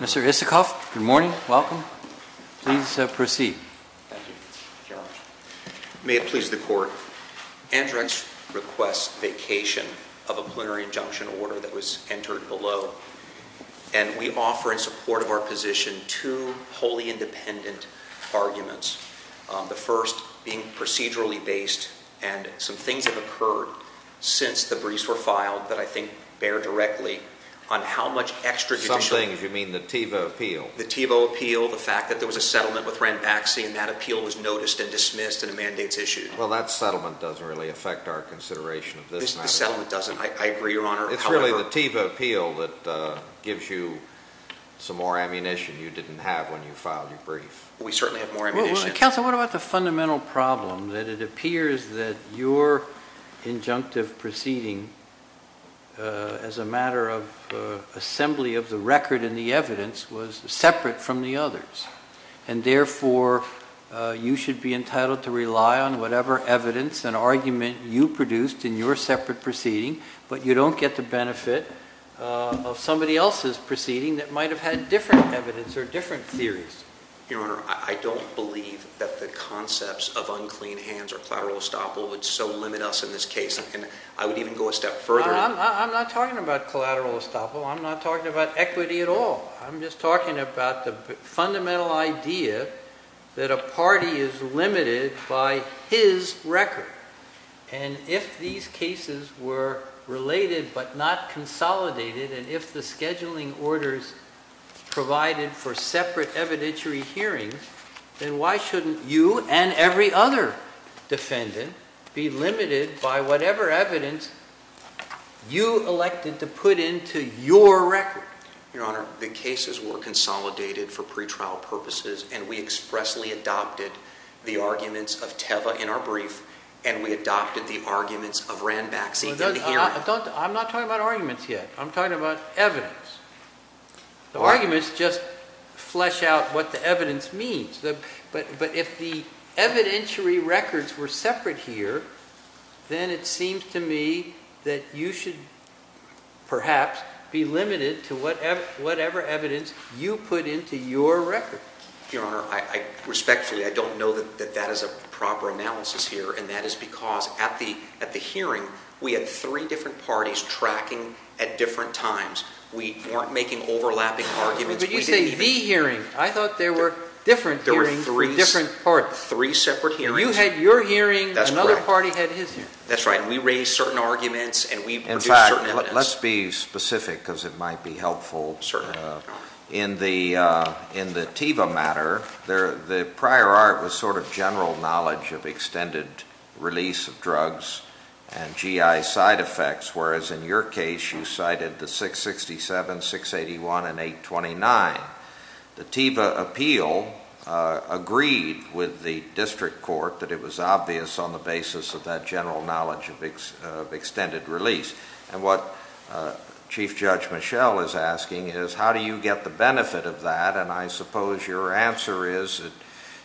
Mr. Isikoff, good morning, welcome. Please proceed. May it please the Court, Andrx requests vacation of a plenary injunction order that was entered below. And we offer in support of our position two wholly independent arguments. The first being procedurally based and some things have occurred since the briefs were filed that I think bear directly on how much extrajudicial Some things, you mean the Tevo appeal? The Tevo appeal, the fact that there was a settlement with Ranbaxy and that appeal was noticed and dismissed and a mandate's issued. Well, that settlement doesn't really affect our consideration of this matter. The settlement doesn't. I agree, Your Honor. It's really the Tevo appeal that gives you some more ammunition you didn't have when you filed your brief. We certainly have more ammunition. Counsel, what about the fundamental problem that it appears that your injunctive proceeding as a matter of assembly of the record and the evidence was separate from the others, and therefore you should be entitled to rely on whatever evidence and argument you produced in your separate proceeding. But you don't get the benefit of somebody else's proceeding that might have had different evidence or different theories. Your Honor, I don't believe that the concepts of unclean hands or collateral estoppel would so limit us in this case, and I would even go a step further. I'm not talking about collateral estoppel. I'm not talking about equity at all. I'm just talking about the fundamental idea that a party is limited by his record. And if these cases were related but not consolidated, and if the scheduling orders provided for separate evidentiary hearings, then why shouldn't you and every other defendant be limited by whatever evidence you elected to put into your record? Your Honor, the cases were consolidated for pretrial purposes, and we expressly adopted the arguments of Teva in our brief, and we adopted the arguments of Ranbaxy in the hearing. I'm not talking about arguments yet. I'm talking about evidence. The arguments just flesh out what the evidence means. But if the evidentiary records were be limited to whatever evidence you put into your record. Your Honor, respectfully, I don't know that that is a proper analysis here, and that is because at the hearing, we had three different parties tracking at different times. We weren't making overlapping arguments. But you say the hearing. I thought there were different hearings for different parties. Three separate hearings. You had your hearing. That's correct. Another party had his hearing. That's right. We raised certain arguments and we produced certain evidence. Let's be specific because it might be helpful. In the Teva matter, the prior art was sort of general knowledge of extended release of drugs and GI side effects, whereas in your case you cited the 667, 681, and 829. The Teva appeal agreed with the district court that it was obvious on the basis of that general knowledge of extended release. And what Chief Judge Michel is asking is, how do you get the benefit of that? And I suppose your answer is that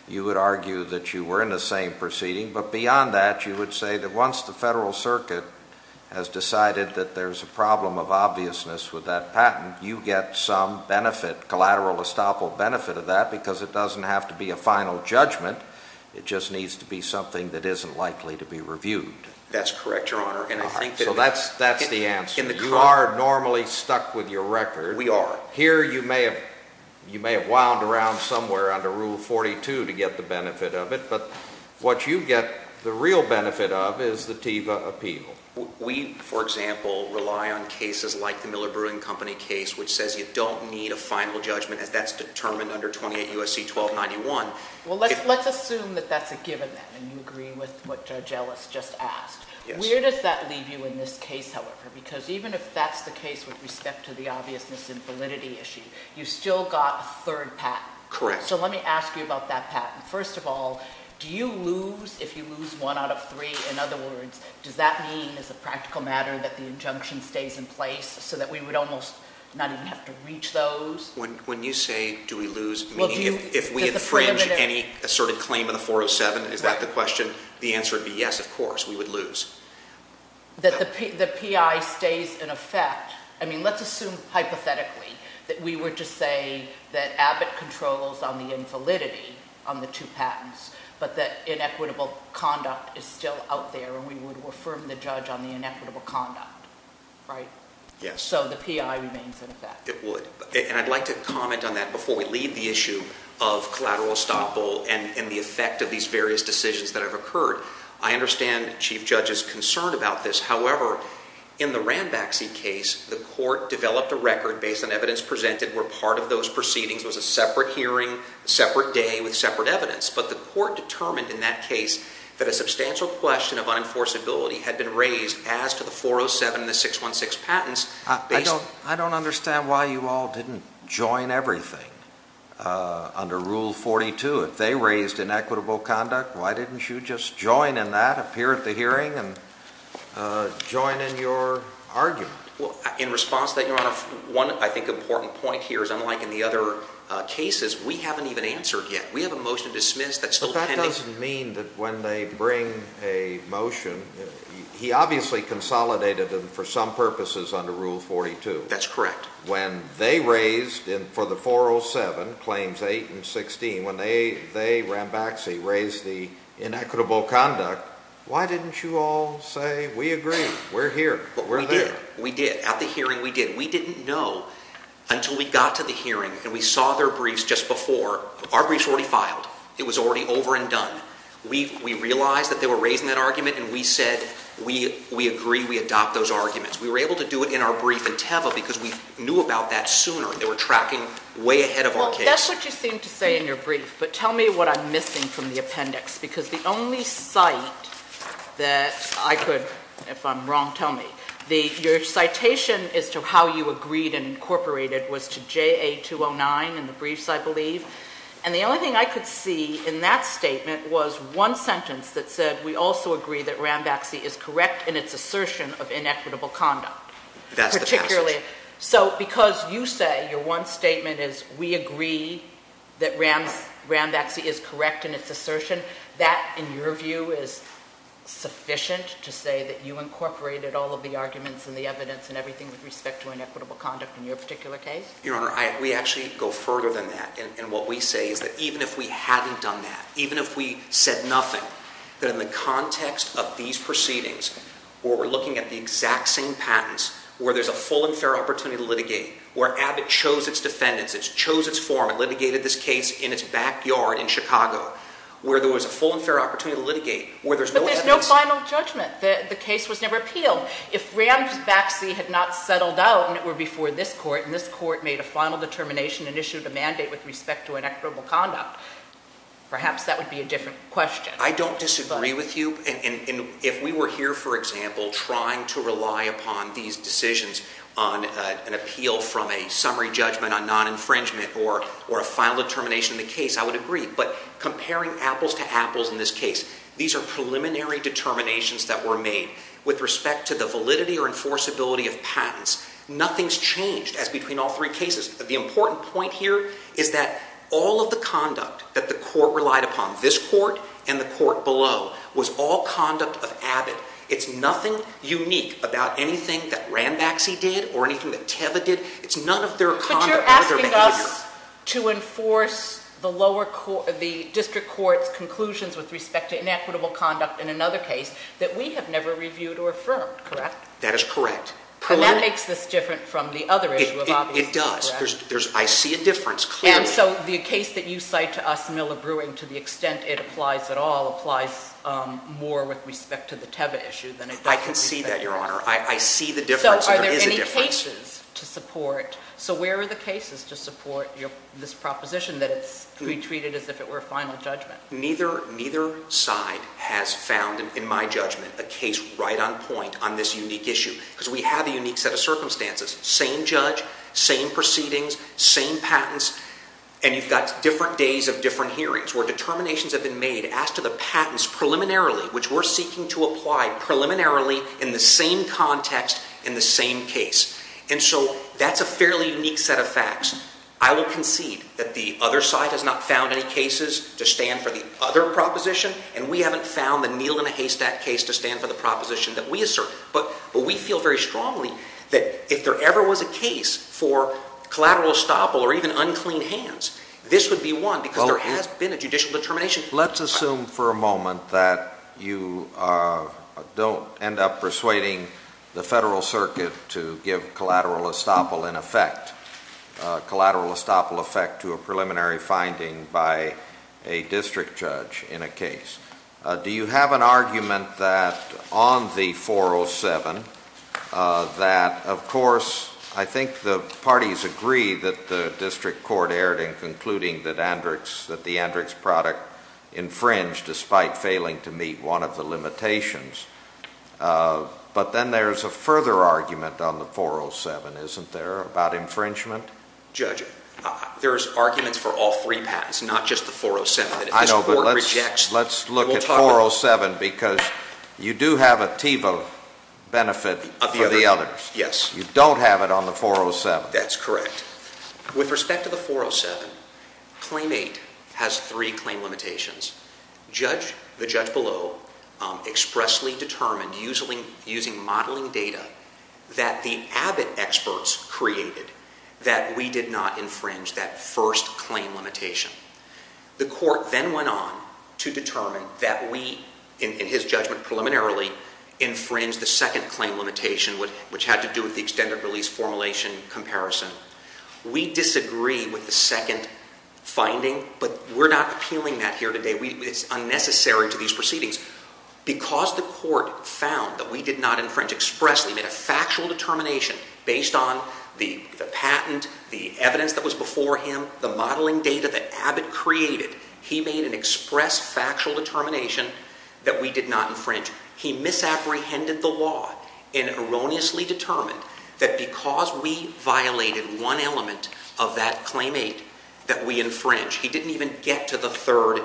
you would argue that you were in the same proceeding. But beyond that, you would say that once the Federal Circuit has decided that there's a problem of obviousness with that patent, you get some benefit, collateral estoppel benefit of that because it doesn't have to be a final judgment. It just needs to be something that isn't likely to be reviewed. That's correct, Your Honor. So that's the answer. You are normally stuck with your record. We are. Here you may have wound around somewhere under Rule 42 to get the benefit of it, but what you get the real benefit of is the Teva appeal. We, for example, rely on cases like the Miller Brewing Company case which says you don't need a final judgment as that's Well, let's assume that that's a given then, and you agree with what Judge Ellis just asked. Where does that leave you in this case, however? Because even if that's the case with respect to the obviousness and validity issue, you still got a third patent. Correct. So let me ask you about that patent. First of all, do you lose if you lose one out of three? In other words, does that mean as a practical matter that the injunction stays in place so that we would almost not even have to reach those? When you say do we lose, meaning if we infringe any asserted claim in the 407, is that the question? The answer would be yes, of course, we would lose. That the PI stays in effect. I mean, let's assume hypothetically that we were to say that Abbott controls on the invalidity on the two patents, but that inequitable conduct is still out there and we would affirm the judge on the inequitable conduct, right? Yes. So the PI remains in effect. It would. And I'd like to comment on that before we leave the issue of collateral estoppel and the effect of these various decisions that have occurred. I understand Chief Judge's concern about this. However, in the Ranbaxy case, the court developed a record based on evidence presented where part of those proceedings was a separate hearing, separate day with separate evidence. But the court determined in that case that a substantial question of unenforceability had been raised as to the under Rule 42. If they raised inequitable conduct, why didn't you just join in that, appear at the hearing and join in your argument? Well, in response to that, Your Honor, one I think important point here is unlike in the other cases, we haven't even answered yet. We have a motion dismissed that's still pending. But that doesn't mean that when they bring a motion, he obviously consolidated them for some purposes under Rule 42. That's 407, Claims 8 and 16. When they, they, Ranbaxy, raised the inequitable conduct, why didn't you all say, we agree. We're here. But we're there. We did. At the hearing, we did. We didn't know until we got to the hearing and we saw their briefs just before. Our briefs were already filed. It was already over and done. We realized that they were raising that argument and we said, we agree. We adopt those arguments. We were able to do it in our brief in Teva because we knew about that sooner and they were tracking way ahead of our case. Well, that's what you seem to say in your brief. But tell me what I'm missing from the appendix because the only cite that I could, if I'm wrong, tell me. The, your citation as to how you agreed and incorporated was to JA 209 in the briefs, I believe. And the only thing I could see in that statement was one sentence that said, we also agree that because you say your one statement is, we agree that Rams ram taxi is correct in its assertion that in your view is sufficient to say that you incorporated all of the arguments and the evidence and everything with respect to inequitable conduct. In your particular case, your honor, we actually go further than that. And what we say is that even if we hadn't done that, even if we said nothing that in the context of these proceedings where we're looking at the exact same patents, where there's a full and fair opportunity to litigate where Abbott chose its defendants, it's chose its form and litigated this case in its backyard in Chicago, where there was a full and fair opportunity to litigate where there's no evidence, no final judgment. The case was never appealed. If Rams backseat had not settled out and it were before this court and this court made a final determination and issued a mandate with respect to inequitable conduct, perhaps that would be a different question. I don't disagree with you. And if we were here, for example, trying to rely upon these decisions on an appeal from a summary judgment on non-infringement or a final determination in the case, I would agree. But comparing apples to apples in this case, these are preliminary determinations that were made with respect to the validity or enforceability of patents. Nothing's changed as between all three cases. The important point here is that all of the report below was all conduct of Abbott. It's nothing unique about anything that Ram backseat did or anything that Teva did. It's none of their conduct. But you're asking us to enforce the lower court, the district court's conclusions with respect to inequitable conduct in another case that we have never reviewed or affirmed, correct? That is correct. And that makes this different from the other issue of obviously, correct? It does. There's, I see a difference clearly. And so the case that you cite to us, Miller-Brewing, to the extent it applies at all, applies more with respect to the Teva issue than it does to the Teva case. I can see that, Your Honor. I see the difference. There is a difference. So are there any cases to support? So where are the cases to support this proposition that it's to be treated as if it were a final judgment? Neither side has found, in my judgment, a case right on point on this unique issue. Because we have a unique set of circumstances. Same judge, same proceedings, same patents. And you've got different days of different hearings where determinations have been made as to the patents preliminarily, which we're seeking to apply preliminarily in the same context, in the same case. And so that's a fairly unique set of facts. I will concede that the other side has not found any cases to stand for the other proposition. And we haven't found the Neal and Haystack case to stand for the proposition that we assert. But we feel very strongly that if there ever was a case for collateral estoppel or even unclean hands, this would be one because there has been a judicial determination. Let's assume for a moment that you don't end up persuading the Federal Circuit to give collateral estoppel in effect, collateral estoppel effect to a preliminary finding by a district judge in a case. Do you have an argument that on the 407 that, of course, I think the parties agree that the district court erred in concluding that the Andrix product infringed despite failing to meet one of the limitations. But then there's a further argument on the 407, isn't there, about infringement? Judge, there's arguments for all three patents, not just the 407. I know, but let's look at 407 because you do have a TIVA benefit for the others. Yes. You don't have it on the 407. That's correct. With respect to the 407, Claim 8 has three claim limitations. The judge below expressly determined using modeling data that the Abbott experts created that we did not infringe that first claim limitation. The court then went on to determine that we, in his judgment preliminarily, infringed the second claim limitation, which had to do with the extended release formulation comparison. We disagree with the second finding, but we're not appealing that here today. It's unnecessary to these proceedings. Because the court found that we did not infringe expressly, made a factual determination based on the patent, the evidence that was before him, the modeling data that Abbott created, he made an express factual determination that we did not infringe. He misapprehended the law and erroneously determined that because we violated one element of that Claim 8 that we infringed. He didn't even get to the third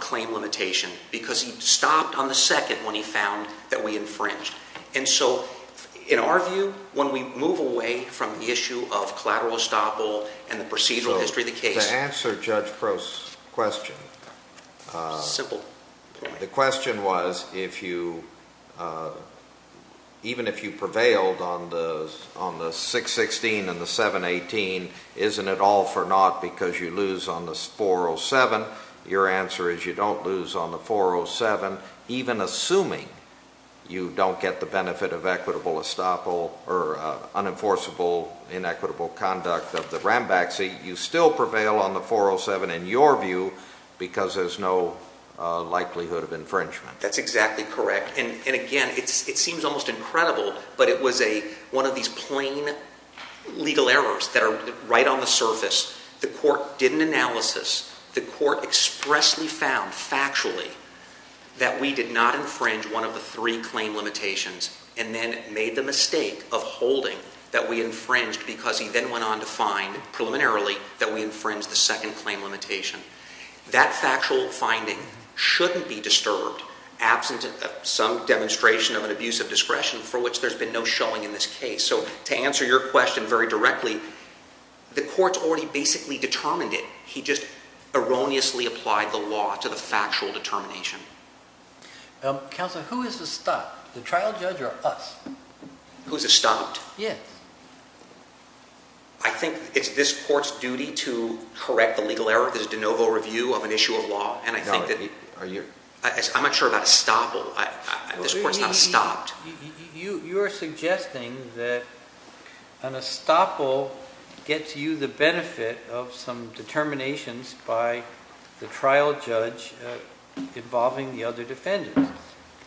claim limitation because he stopped on the second when he found that we infringed. And so, in our view, when we move away from the issue of collateral estoppel and the procedural history of the case... The answer to Judge Prost's question... Simple. The question was, even if you prevailed on the 616 and the 718, isn't it all for naught because you lose on the 407? Your answer is you don't lose on the 407, even assuming you don't get the benefit of equitable estoppel or unenforceable, inequitable conduct of the Rambaxi. You still prevail on the 407, in your view, because there's no likelihood of infringement. That's exactly correct. And again, it seems almost incredible, but it was one of these plain legal errors that are right on the surface. The court did an analysis. The court expressly found, factually, that we did not infringe one of the three claim limitations and then made the mistake of holding that we infringed because he then went on to find, preliminarily, that we infringed the second claim limitation. That factual finding shouldn't be disturbed absent some demonstration of an abuse of discretion for which there's been no showing in this case. So to answer your question very directly, the court's already basically determined it. He just erroneously applied the law to the factual determination. Counselor, who is estopped? The trial judge or us? Who's estopped? Yes. I think it's this court's duty to correct the legal error. This is de novo review of an issue of law. And I think that— Are you— I'm not sure about estoppel. This court's not estopped. You are suggesting that an estoppel gets you the benefit of some determinations by the trial judge involving the other defendants.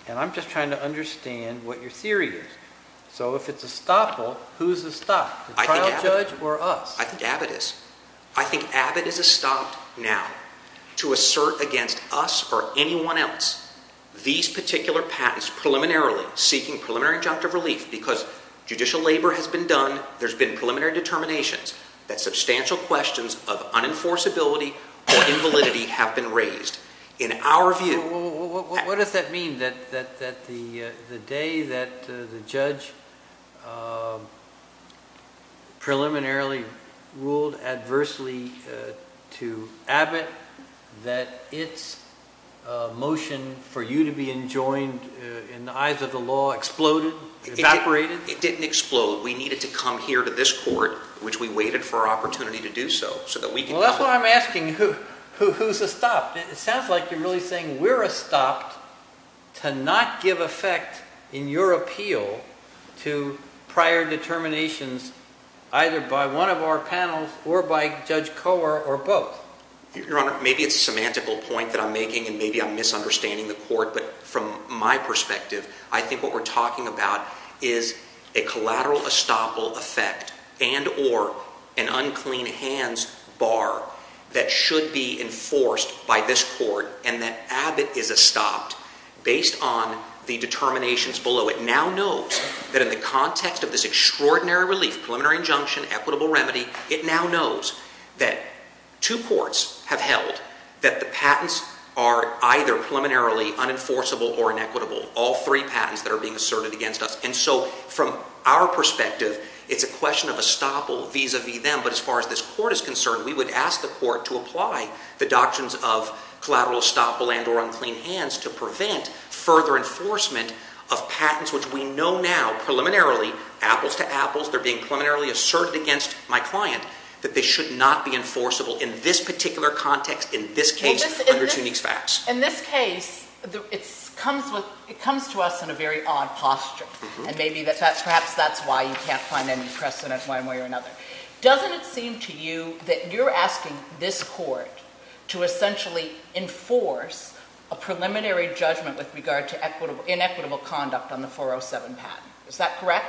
And I'm just trying to understand what your theory is. So if it's estoppel, who's estopped? The trial judge or us? I think Abbott is. I think Abbott is estopped now to assert against us or anyone else these particular patents, preliminarily seeking preliminary injunctive relief because judicial labor has been done, there's been preliminary determinations, that substantial questions of unenforceability or invalidity have been raised. In our view— What does that mean, that the day that the judge preliminarily ruled adversely to Abbott that its motion for you to be enjoined in the eyes of the law exploded, evaporated? It didn't explode. We needed to come here to this court, which we waited for our opportunity to do so, so that we can— Well, that's what I'm asking. Who's estopped? It sounds like you're really saying we're estopped to not give effect in your appeal to prior determinations either by one of our panels or by Judge Kohler or both. Your Honor, maybe it's a semantical point that I'm making and maybe I'm misunderstanding the court, but from my perspective, I think what we're talking about is a collateral estoppel effect and or an unclean hands bar that should be enforced by this court and that Abbott is estopped based on the determinations below. It now knows that in the context of this extraordinary relief, preliminary injunction, equitable remedy, it now knows that two courts have held that the patents are either preliminarily unenforceable or inequitable, all three patents that are being asserted against us. And so from our perspective, it's a question of estoppel vis-a-vis them, but as far as this court is concerned, we would ask the court to apply the doctrines of collateral estoppel and or unclean hands to prevent further enforcement of patents, which we know now my client, that they should not be enforceable in this particular context, in this case, under Zunig's facts. In this case, it comes to us in a very odd posture and maybe that's perhaps that's why you can't find any precedent one way or another. Doesn't it seem to you that you're asking this court to essentially enforce a preliminary judgment with regard to inequitable conduct on the 407 patent? Is that correct?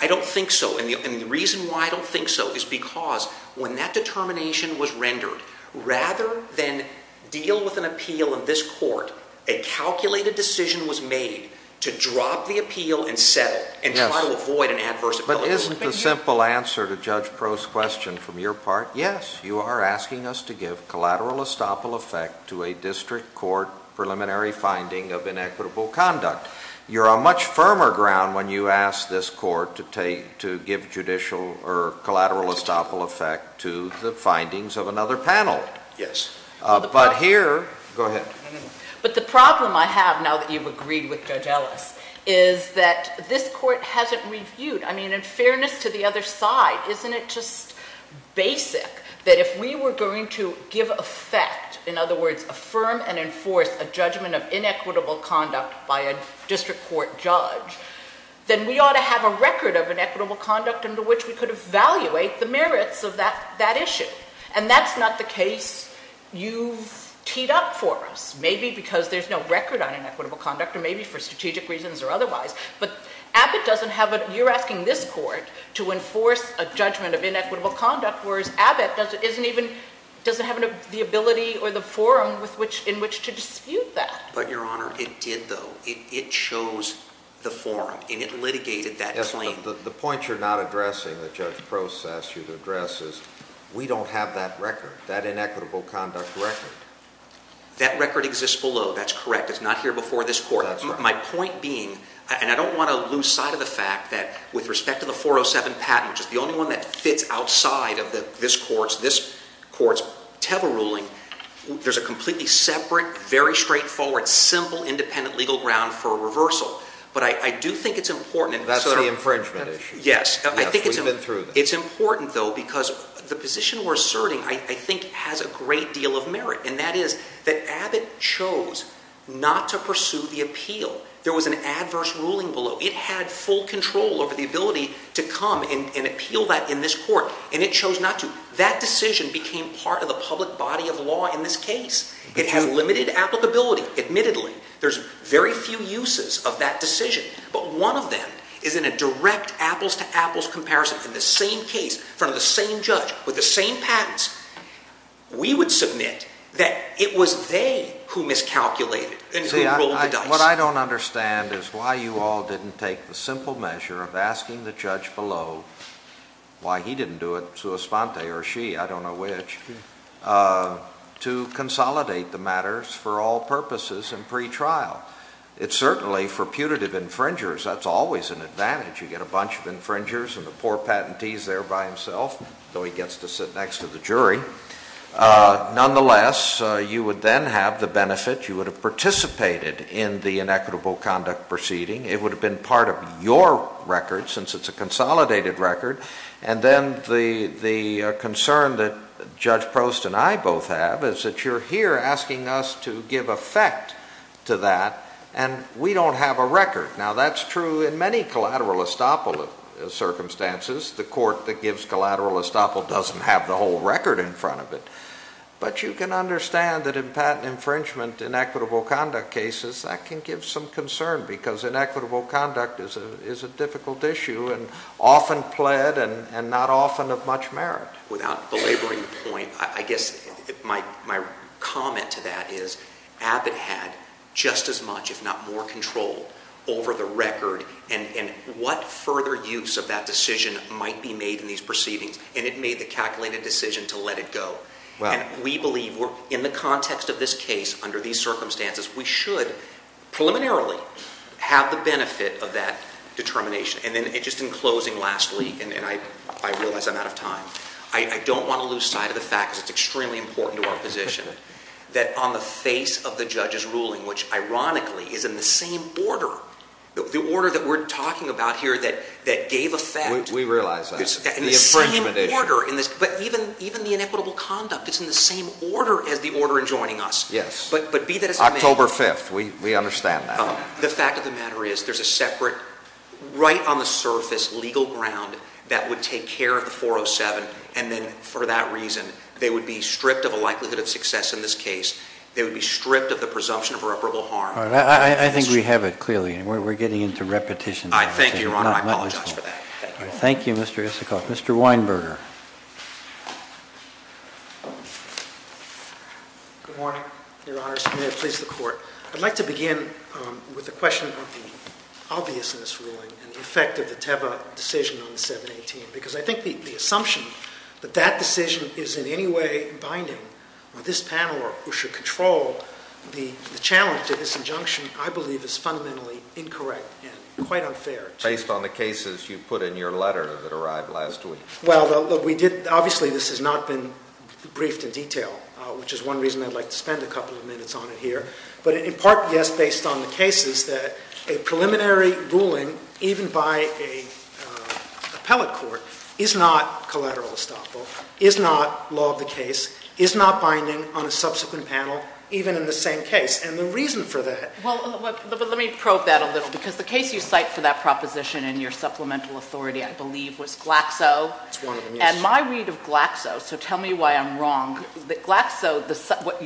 I don't think so. And the reason why I don't think so is because when that determination was rendered, rather than deal with an appeal in this court, a calculated decision was made to drop the appeal and settle and try to avoid an adverse effect. But isn't the simple answer to Judge Proulx's question from your part, yes, you are asking us to give collateral estoppel effect to a district court preliminary finding of inequitable conduct. You're on much firmer ground when you ask this court to give judicial or collateral estoppel effect to the findings of another panel. Yes. But here, go ahead. But the problem I have now that you've agreed with Judge Ellis is that this court hasn't reviewed. I mean, in fairness to the other side, isn't it just basic that if we were going to give effect, in other words, affirm and enforce a judgment of inequitable conduct by a district court judge, then we ought to have a record of inequitable conduct under which we could evaluate the merits of that issue. And that's not the case you've teed up for us, maybe because there's no record on inequitable conduct or maybe for strategic reasons or otherwise. But Abbott doesn't have a—you're asking this court to enforce a judgment of inequitable conduct, whereas Abbott doesn't even—doesn't have the ability or the forum in which to dispute that. But, Your Honor, it did, though. It chose the forum, and it litigated that claim. The point you're not addressing that Judge Prost asked you to address is we don't have that record, that inequitable conduct record. That record exists below. That's correct. It's not here before this court. That's right. My point being—and I don't want to lose sight of the fact that with respect to the side of this court's Teva ruling, there's a completely separate, very straightforward, simple independent legal ground for a reversal. But I do think it's important— That's the infringement issue. Yes. We've been through that. It's important, though, because the position we're asserting, I think, has a great deal of merit, and that is that Abbott chose not to pursue the appeal. There was an adverse ruling below. It had full control over the ability to come and appeal that in this court. And it chose not to. That decision became part of the public body of law in this case. It has limited applicability, admittedly. There's very few uses of that decision, but one of them is in a direct apples-to-apples comparison in the same case, in front of the same judge, with the same patents. We would submit that it was they who miscalculated and who rolled the dice. What I don't understand is why you all didn't take the simple measure of asking the judge below—why he didn't do it, sua sponte, or she, I don't know which—to consolidate the matters for all purposes in pretrial. It's certainly, for putative infringers, that's always an advantage. You get a bunch of infringers and the poor patentee is there by himself, though he gets to sit next to the jury. Nonetheless, you would then have the benefit. You would have participated in the inequitable conduct proceeding. It would have been part of your record, since it's a consolidated record. And then the concern that Judge Prost and I both have is that you're here asking us to give effect to that, and we don't have a record. Now, that's true in many collateral estoppel circumstances. The court that gives collateral estoppel doesn't have the whole record in front of it. But you can understand that in patent infringement, inequitable conduct cases, that can give some concern, because inequitable conduct is a difficult issue, and often pled, and not often of much merit. Without belaboring the point, I guess my comment to that is Abbott had just as much, if not more, control over the record, and what further use of that decision might be made in these proceedings. And it made the calculated decision to let it go. And we believe in the context of this case, under these circumstances, we should preliminarily have the benefit of that determination. And then just in closing, lastly, and I realize I'm out of time, I don't want to lose sight of the fact, because it's extremely important to our position, that on the face of the judge's ruling, which ironically is in the same order, the order that we're talking about here that gave effect. We realize that. The infringement issue. But even the inequitable conduct is in the same order as the order enjoining us. Yes. But be that as it may. October 5th. We understand that. The fact of the matter is, there's a separate, right on the surface, legal ground that would take care of the 407, and then for that reason, they would be stripped of a likelihood of success in this case. They would be stripped of the presumption of irreparable harm. I think we have it, clearly. We're getting into repetition. I thank you, Your Honor. I apologize for that. Thank you. Thank you, Mr. Isikoff. Mr. Weinberger. Good morning, Your Honor. Mr. Mayor, please, the Court. I'd like to begin with the question of the obviousness ruling and the effect of the Teva decision on the 718. Because I think the assumption that that decision is in any way binding on this panel or should control the challenge to this injunction, I believe, is fundamentally incorrect and quite unfair. Based on the cases you put in your letter that arrived last week. Well, we did, obviously, this has not been briefed in detail, which is one reason I'd like to spend a couple of minutes on it here. But in part, yes, based on the cases that a preliminary ruling, even by an appellate court, is not collateral estoppel, is not law of the case, is not binding on a subsequent panel, even in the same case. And the reason for that... Well, let me probe that a little. Because the case you cite for that proposition in your supplemental authority, I believe, was Glaxo. It's one of the most... And my read of Glaxo, so tell me why I'm wrong, that Glaxo,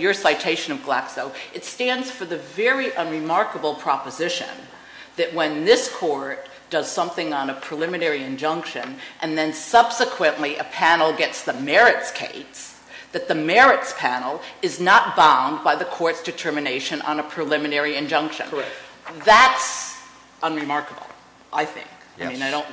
your citation of Glaxo, it stands for the very unremarkable proposition that when this court does something on a preliminary injunction and then subsequently a panel gets the merits case, that the merits panel is not bound by the court's determination on a preliminary injunction. Correct. That's unremarkable, I think. Yes. I mean, I don't...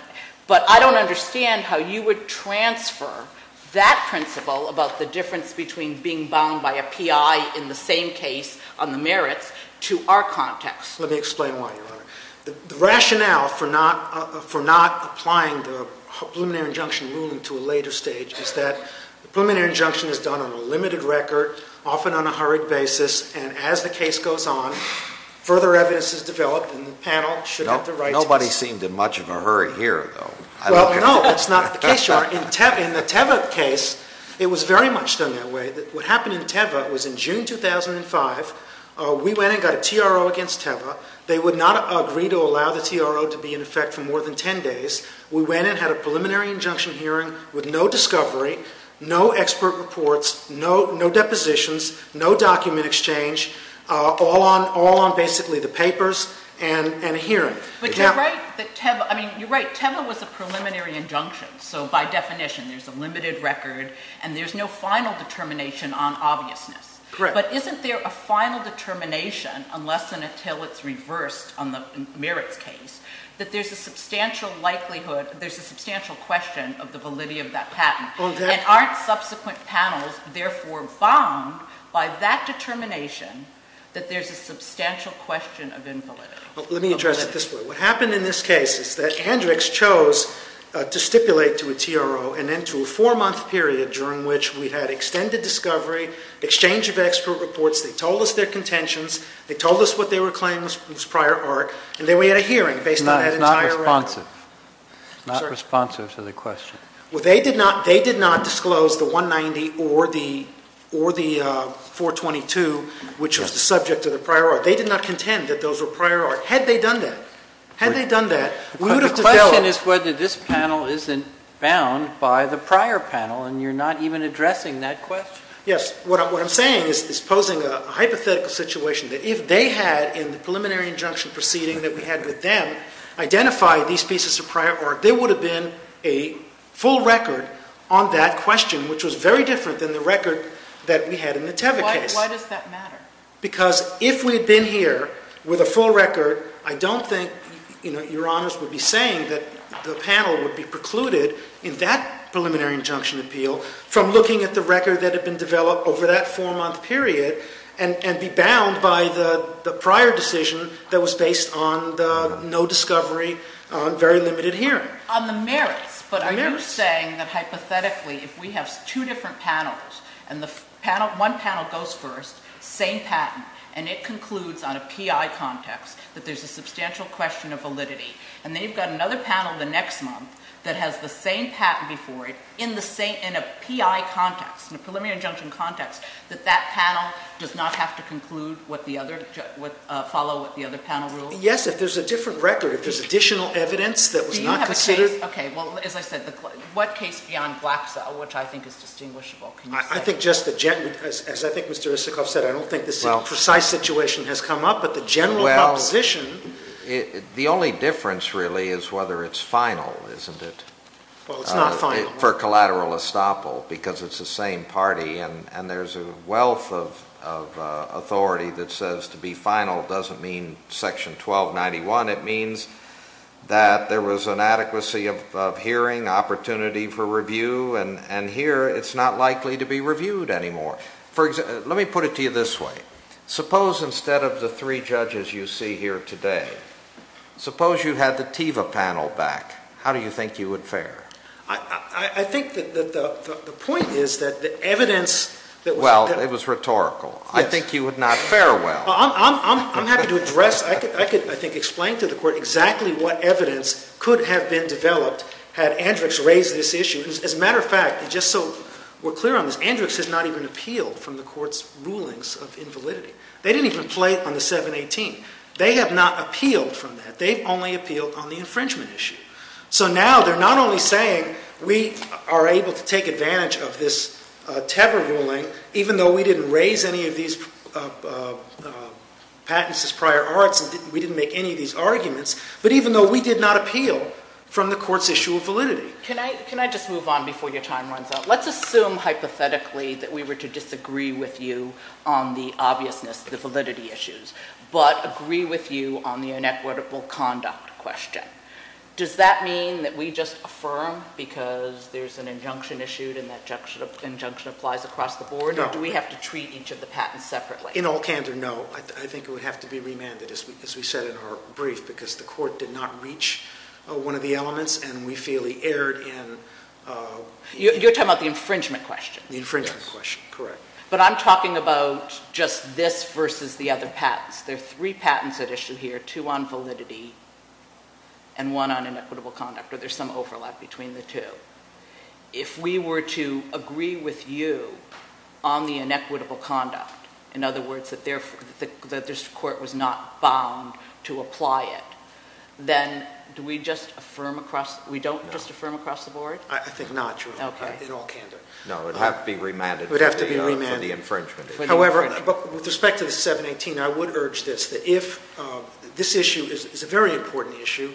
But I don't understand how you would transfer that principle about the difference between being bound by a PI in the same case on the merits to our context. Let me explain why, Your Honor. The rationale for not applying the preliminary injunction ruling to a later stage is that the preliminary injunction is done on a limited record, often on a hurried basis, and as the case goes on, further evidence is developed and the panel should have the right to... Nobody seemed in much of a hurry here, though. Well, no. That's not the case, Your Honor. In the Teva case, it was very much done that way. What happened in Teva was in June 2005, we went and got a TRO against Teva. They would not agree to allow the TRO to be in effect for more than 10 days. We went and had a preliminary injunction hearing with no discovery, no expert reports, no depositions, no document exchange, all on basically the papers and a hearing. But you write that Teva... I mean, you write Teva was a preliminary injunction, so by definition, there's a limited record and there's no final determination on obviousness. Correct. But isn't there a final determination, unless and until it's reversed on the merits case, that there's a substantial likelihood, there's a substantial question of the validity of that patent? Exactly. And aren't subsequent panels, therefore, bound by that determination that there's a substantial question of invalidity? Let me address it this way. What happened in this case is that Andrix chose to stipulate to a TRO and then to a four-month period during which we had extended discovery, exchange of expert reports. They told us their contentions. They told us what they were claiming was prior art, and then we had a hearing based on that entire record. It's not responsive. Sorry? It's not responsive to the question. Well, they did not disclose the 190 or the 422, which was the subject of the prior art. They did not contend that those were prior art. Had they done that, had they done that, we would have to tell... The question is whether this panel isn't bound by the prior panel, and you're not even addressing that question. Yes. What I'm saying is posing a hypothetical situation that if they had, in the preliminary injunction proceeding that we had with them, identified these pieces of prior art, there would have been a full record on that question, which was very different than the record that we had in the Teva case. Why does that matter? Because if we had been here with a full record, I don't think Your Honors would be saying that the panel would be precluded in that preliminary injunction appeal from looking at the record that had been developed over that four-month period, and be bound by the prior decision that was based on the no discovery, very limited hearing. On the merits. On the merits. But are you saying that hypothetically, if we have two different panels, and one panel goes first, same patent, and it concludes on a PI context, that there's a substantial question of validity, and then you've got another panel the next month that has the same patent before it, in the same, in a PI context, in a preliminary injunction context, that that panel does not have to conclude what the other, follow what the other panel rules? Yes, if there's a different record. If there's additional evidence that was not considered. Do you have a case? Okay. Well, as I said, what case beyond Glaxo, which I think is distinguishable? I think just the general, as I think Mr. Isikoff said, I don't think this precise situation has come up, but the general proposition. The only difference, really, is whether it's final, isn't it? Well, it's not final. For collateral estoppel, because it's the same party, and there's a wealth of authority that says to be final doesn't mean section 1291. It means that there was inadequacy of hearing, opportunity for review, and here it's not likely to be reviewed anymore. For example, let me put it to you this way. Suppose instead of the three judges you see here today, suppose you had the Teva panel back. How do you think you would fare? I think that the point is that the evidence that was— Well, it was rhetorical. I think you would not fare well. I'm happy to address. I could, I think, explain to the Court exactly what evidence could have been developed had Andrix raise this issue. As a matter of fact, just so we're clear on this, Andrix has not even appealed from the Court's rulings of invalidity. They didn't even play on the 718. They have not appealed from that. They've only appealed on the infringement issue. So now they're not only saying we are able to take advantage of this Teva ruling, even though we didn't raise any of these patents as prior arts, and we didn't make any of these arguments, but even though we did not appeal from the Court's issue of validity. Can I just move on before your time runs out? Let's assume, hypothetically, that we were to disagree with you on the obviousness, the validity issues, but agree with you on the inequitable conduct question. Does that mean that we just affirm because there's an injunction issued and that injunction applies across the board? No. Or do we have to treat each of the patents separately? In all candor, no. I think it would have to be remanded, as we said in our brief, because the Court did not reach one of the elements, and we fairly erred in— You're talking about the infringement question? Yes. The infringement question. Correct. But I'm talking about just this versus the other patents. There are three patents at issue here, two on validity and one on inequitable conduct, or there's some overlap between the two. If we were to agree with you on the inequitable conduct, in other words, that this Court was not bound to apply it, then do we just affirm across—we don't just affirm across the board? No. I think not, in all candor. No. It would have to be remanded. It would have to be remanded. For the infringement. However, with respect to the 718, I would urge this, that if—this issue is a very important issue.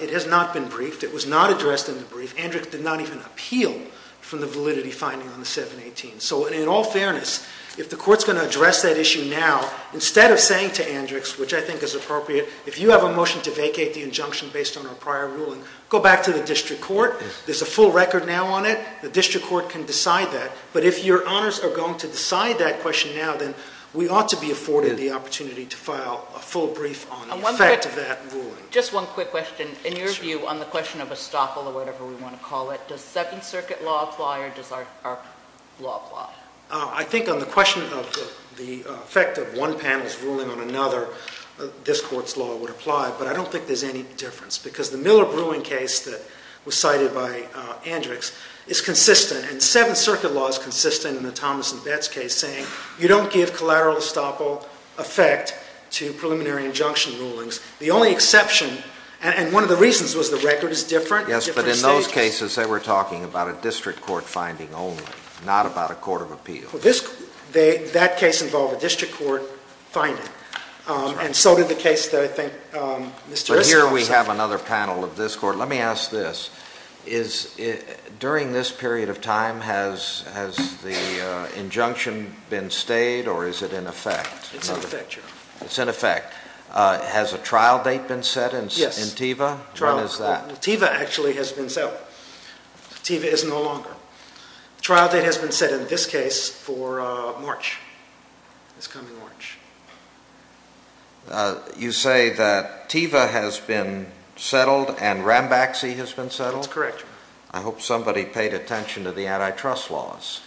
It has not been briefed. It was not addressed in the brief. Andrix did not even appeal from the validity finding on the 718. So in all fairness, if the Court's going to address that issue now, instead of saying to Andrix, which I think is appropriate, if you have a motion to vacate the injunction based on our prior ruling, go back to the District Court. There's a full record now on it. The District Court can decide that. But if your honors are going to decide that question now, then we ought to be afforded the opportunity to file a full brief on the effect of that ruling. Just one quick question. In your view, on the question of estoppel or whatever we want to call it, does Second Circuit law apply or does our law apply? I think on the question of the effect of one panel's ruling on another, this Court's law would apply. But I don't think there's any difference. Because the Miller-Bruin case that was cited by Andrix is consistent, and Second Circuit law is consistent in the Thomas and Betts case, saying you don't give collateral estoppel effect to preliminary injunction rulings. The only exception, and one of the reasons was the record is different at different stages. Yes, but in those cases, they were talking about a District Court finding only, not about a court of appeals. That case involved a District Court finding. And so did the case that I think Mr. Riscoff cited. But here we have another panel of this Court. Let me ask this. During this period of time, has the injunction been stayed or is it in effect? It's in effect, Your Honor. It's in effect. Has a trial date been set in TEVA? When is that? TEVA actually has been set. TEVA is no longer. The trial date has been set in this case for March, this coming March. You say that TEVA has been settled and Rambaxi has been settled? That's correct, Your Honor. I hope somebody paid attention to the antitrust laws.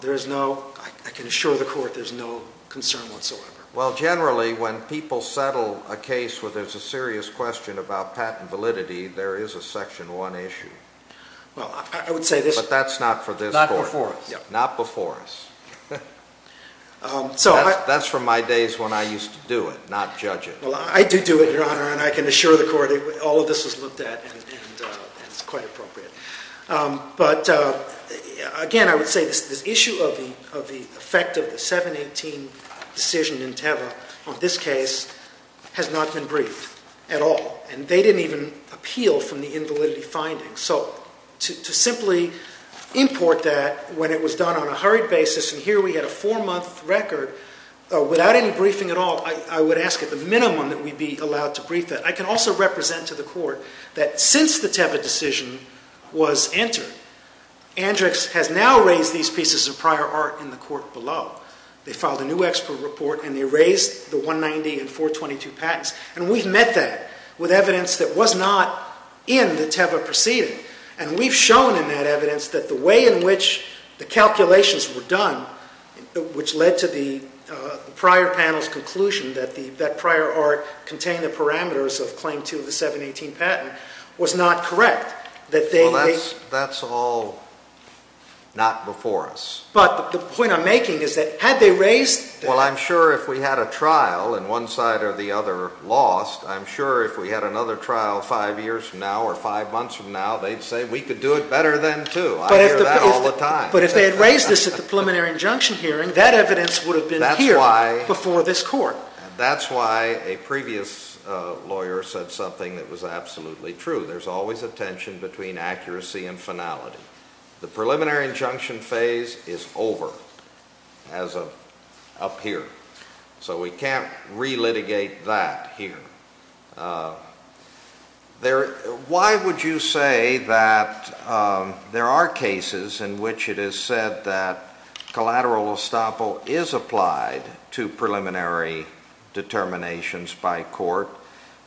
There is no, I can assure the Court, there's no concern whatsoever. Well generally, when people settle a case where there's a serious question about patent validity, there is a Section 1 issue. Well, I would say this. But that's not for this Court. Not before us. Not before us. That's from my days when I used to do it, not judge it. Well, I do do it, Your Honor, and I can assure the Court all of this is looked at and it's quite appropriate. But again, I would say this issue of the effect of the 718 decision in TEVA on this case has not been briefed at all. And they didn't even appeal from the invalidity findings. So to simply import that when it was done on a hurried basis and here we had a four-month record without any briefing at all, I would ask at the minimum that we be allowed to brief that. I can also represent to the Court that since the TEVA decision was entered, Andrix has now raised these pieces of prior art in the Court below. They filed a new expert report and they raised the 190 and 422 patents. And we've met that with evidence that was not in the TEVA proceeding. And we've shown in that evidence that the way in which the calculations were done, which led to the prior panel's conclusion that that prior art contained the parameters of Claim 2 of the 718 patent, was not correct. Well, that's all not before us. But the point I'm making is that had they raised that I'm sure if we had a trial and one side or the other lost, I'm sure if we had another trial five years from now or five months from now, they'd say we could do it better then too. I hear that all the time. But if they had raised this at the preliminary injunction hearing, that evidence would have been here before this Court. That's why a previous lawyer said something that was absolutely true. There's always a tension between accuracy and finality. The preliminary injunction phase is over as of up here. So we can't re-litigate that here. Why would you say that there are cases in which it is said that collateral estoppel is applied to preliminary determinations by court?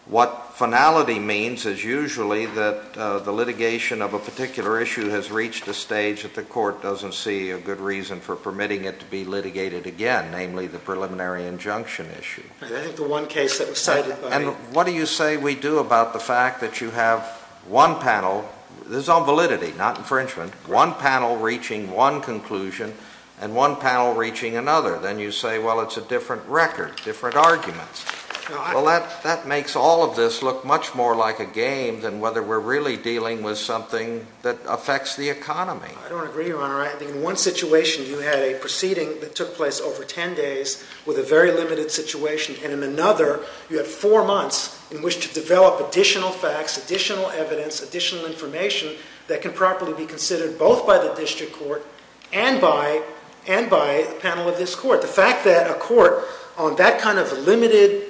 What finality means is usually that the litigation of a particular issue has reached a stage that the court doesn't see a good reason for permitting it to be litigated again, namely the preliminary injunction issue. I think the one case that was cited by— What do you say we do about the fact that you have one panel—this is all validity, not infringement—one panel reaching one conclusion and one panel reaching another? Then you say, well, it's a different record, different arguments. Well, that makes all of this look much more like a game than whether we're really dealing with something that affects the economy. I don't agree, Your Honor. I think in one situation, you had a proceeding that took place over 10 days with a very limited situation, and in another, you had four months in which to develop additional facts, additional evidence, additional information that can properly be considered both by the District Court and by the panel of this Court. The fact that a court on that kind of limited,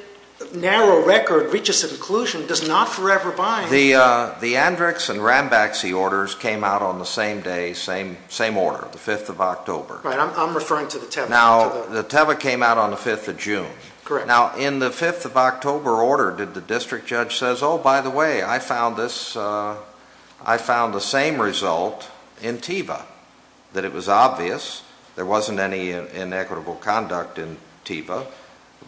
narrow record reaches a conclusion does not forever bind— The Andrix and Rambaxi orders came out on the same day, same order, the 5th of October. Right. I'm referring to the Teva. Now, the Teva came out on the 5th of June. Correct. Now, in the 5th of October order, did the District Judge say, oh, by the way, I found this—I found the same result in Teva, that it was obvious, there wasn't any inequitable conduct in Teva,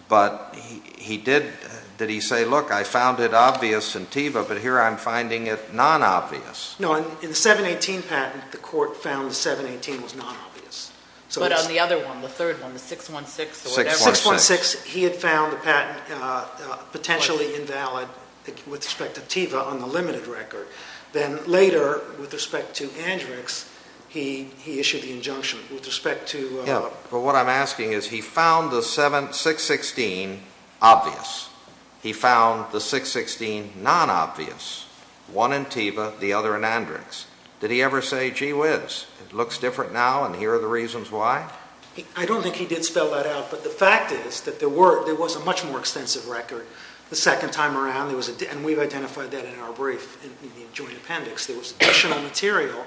but he did—did he say, look, I found it obvious in Teva, but here I'm finding it non-obvious? No. In the 718 patent, the court found the 718 was non-obvious. But on the other one, the third one, the 616 or whatever— 616. 616, he had found the patent potentially invalid with respect to Teva on the limited record. Then later, with respect to Andrix, he issued the injunction with respect to— But what I'm asking is, he found the 616 obvious. He found the 616 non-obvious, one in Teva, the other in Andrix. Did he ever say, gee whiz, it looks different now and here are the reasons why? I don't think he did spell that out, but the fact is that there was a much more extensive record the second time around, and we've identified that in our brief in the joint appendix. There was additional material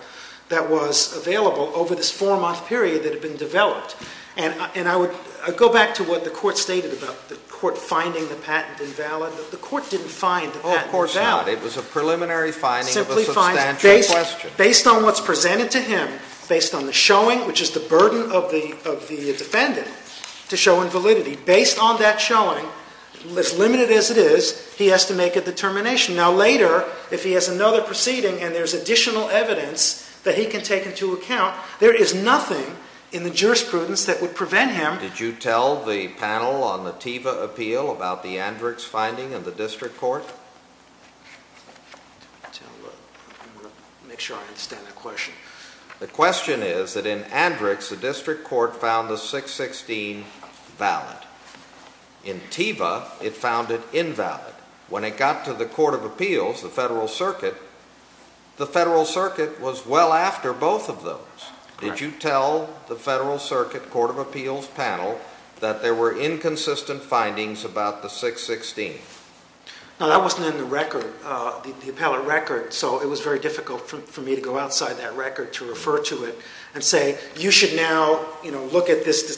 that was available over this four-month period that had been developed. And I would go back to what the Court stated about the Court finding the patent invalid. The Court didn't find the patent invalid. Oh, of course not. It was a preliminary finding of a substantial question. Based on what's presented to him, based on the showing, which is the burden of the defendant, to show invalidity, based on that showing, as limited as it is, he has to make a determination. Now, later, if he has another proceeding and there's additional evidence that he can take into account, there is nothing in the jurisprudence that would prevent him. Did you tell the panel on the Teva appeal about the Andrix finding in the district court? I'm going to make sure I understand that question. The question is that in Andrix, the district court found the 616 valid. In Teva, it found it invalid. When it got to the Court of Appeals, the Federal Circuit, the Federal Circuit was well after both of those. Correct. Did you tell the Federal Circuit Court of Appeals panel that there were inconsistent findings about the 616? No, that wasn't in the record, the appellate record, so it was very difficult for me to go outside that record to refer to it and say, you should now, you know, look at this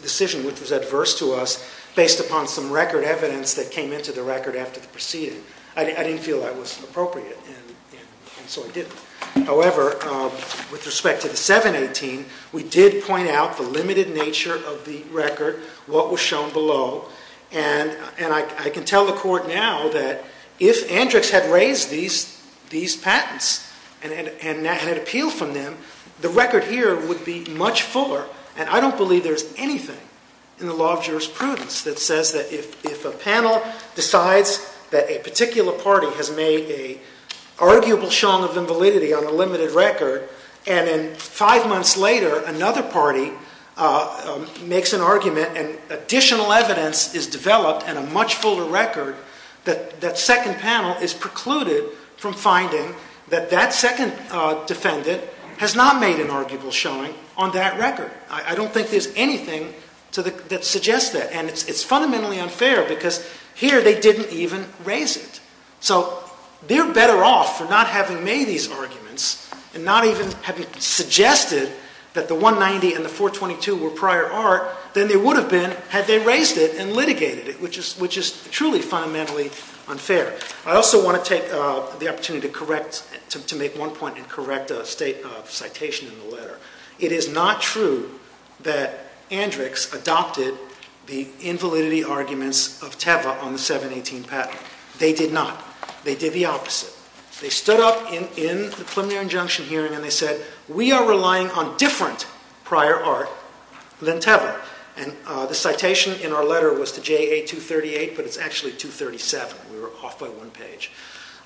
decision, which was adverse to us, based upon some record evidence that came into the record after the proceeding. I didn't feel that was appropriate, and so I didn't. However, with respect to the 718, we did point out the limited nature of the record, what was shown below, and I can tell the Court now that if Andrix had raised these patents and had appealed from them, the record here would be much fuller, and I don't believe there's anything in the law of jurisprudence that says that if a panel decides that a particular showing of invalidity on a limited record, and then five months later, another party makes an argument, and additional evidence is developed, and a much fuller record, that second panel is precluded from finding that that second defendant has not made an arguable showing on that record. I don't think there's anything that suggests that, and it's fundamentally unfair, because here they didn't even raise it. So they're better off for not having made these arguments, and not even having suggested that the 190 and the 422 were prior art, than they would have been had they raised it and litigated it, which is truly fundamentally unfair. I also want to take the opportunity to make one point and correct a citation in the letter. It is not true that Andrix adopted the invalidity arguments of Teva on the 718 patent. They did not. They did the opposite. They stood up in the preliminary injunction hearing, and they said, we are relying on different prior art than Teva, and the citation in our letter was to JA 238, but it's actually 237. We were off by one page.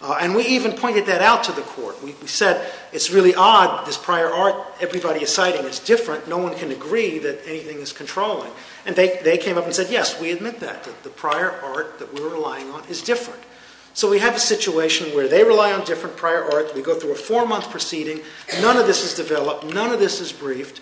And we even pointed that out to the court. We said, it's really odd, this prior art everybody is citing is different. No one can agree that anything is controlling. And they came up and said, yes, we admit that. The prior art that we're relying on is different. So we have a situation where they rely on different prior art, we go through a four-month proceeding, none of this is developed, none of this is briefed,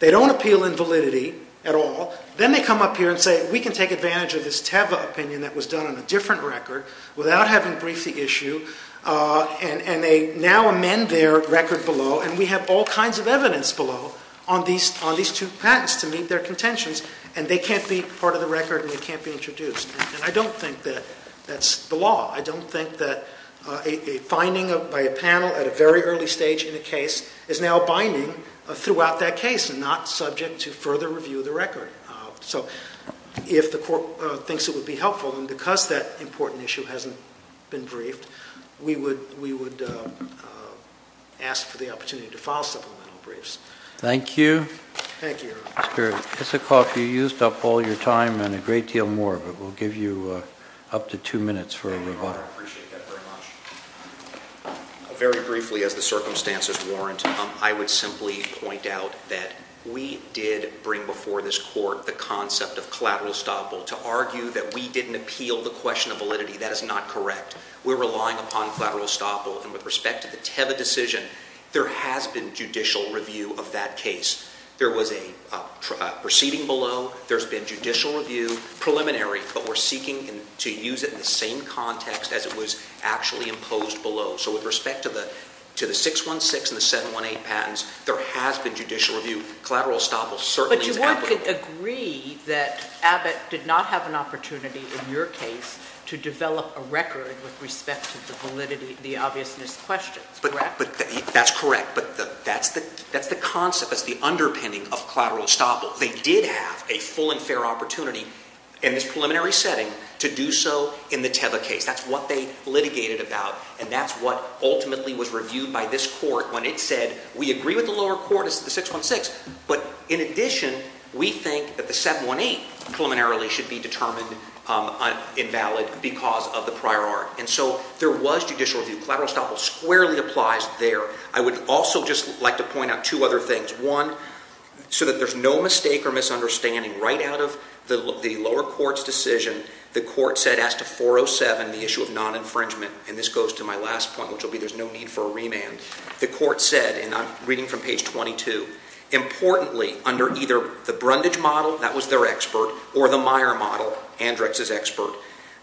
they don't appeal invalidity at all, then they come up here and say, we can take advantage of this Teva opinion that was done on a different record, without having briefed the issue, and they now amend their record below, and we have all kinds of evidence below on these two patents to meet their contentions, and they can't be part of the record, and they can't be introduced. And I don't think that that's the law. I don't think that a finding by a panel at a very early stage in a case is now binding throughout that case, and not subject to further review of the record. So if the court thinks it would be helpful, and because that important issue hasn't been briefed, we would ask for the opportunity to file supplemental briefs. Thank you. Thank you. Mr. Isikoff, you used up all your time and a great deal more, but we'll give you up to two minutes for a rebuttal. Thank you, Your Honor. I appreciate that very much. Very briefly, as the circumstances warrant, I would simply point out that we did bring before this court the concept of collateral estoppel. To argue that we didn't appeal the question of validity, that is not correct. We're relying upon collateral estoppel, and with respect to the Teva decision, there has been judicial review of that case. There was a proceeding below. There's been judicial review, preliminary, but we're seeking to use it in the same context as it was actually imposed below. So with respect to the 616 and the 718 patents, there has been judicial review. Collateral estoppel certainly is applicable. But you would agree that Abbott did not have an opportunity in your case to develop a record with respect to the validity, the obviousness questions, correct? That's correct. But that's the concept, that's the underpinning of collateral estoppel. They did have a full and fair opportunity in this preliminary setting to do so in the Teva case. That's what they litigated about, and that's what ultimately was reviewed by this court when it said, we agree with the lower court, it's the 616, but in addition, we think that the 718 preliminarily should be determined invalid because of the prior art. And so there was judicial review. Collateral estoppel squarely applies there. I would also just like to point out two other things. One, so that there's no mistake or misunderstanding, right out of the lower court's decision, the court said as to 407, the issue of non-infringement, and this goes to my last point, which will be there's no need for a remand, the court said, and I'm reading from page 22, importantly, under either the Brundage model, that was their expert, or the Meyer model, Andrex's expert,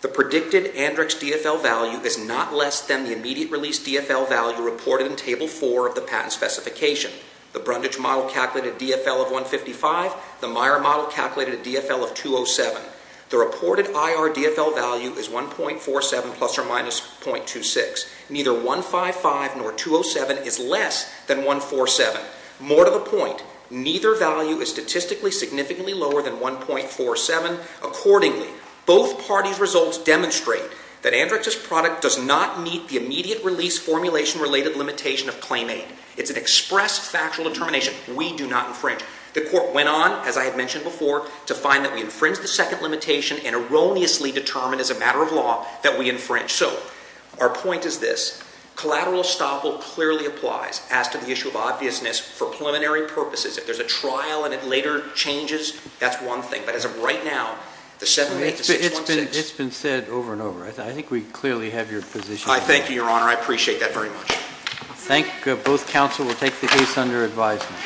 the predicted Andrex DFL value is not less than the immediate release DFL value reported in Table 4 of the patent specification. The Brundage model calculated a DFL of 155. The Meyer model calculated a DFL of 207. The reported IR DFL value is 1.47 plus or minus 0.26. Neither 155 nor 207 is less than 147. More to the point, neither value is statistically significantly lower than 1.47. Accordingly, both parties' results demonstrate that Andrex's product does not meet the immediate release formulation-related limitation of claim aid. It's an express factual determination. We do not infringe. The court went on, as I had mentioned before, to find that we infringed the second limitation and erroneously determined as a matter of law that we infringe. So our point is this. Collateral estoppel clearly applies as to the issue of obviousness for preliminary purposes. If there's a trial and it later changes, that's one thing. But as of right now, the 78616 — It's been said over and over. I think we clearly have your position. I thank you, Your Honor. I appreciate that very much. Thank you. Both counsel will take the case under advisement.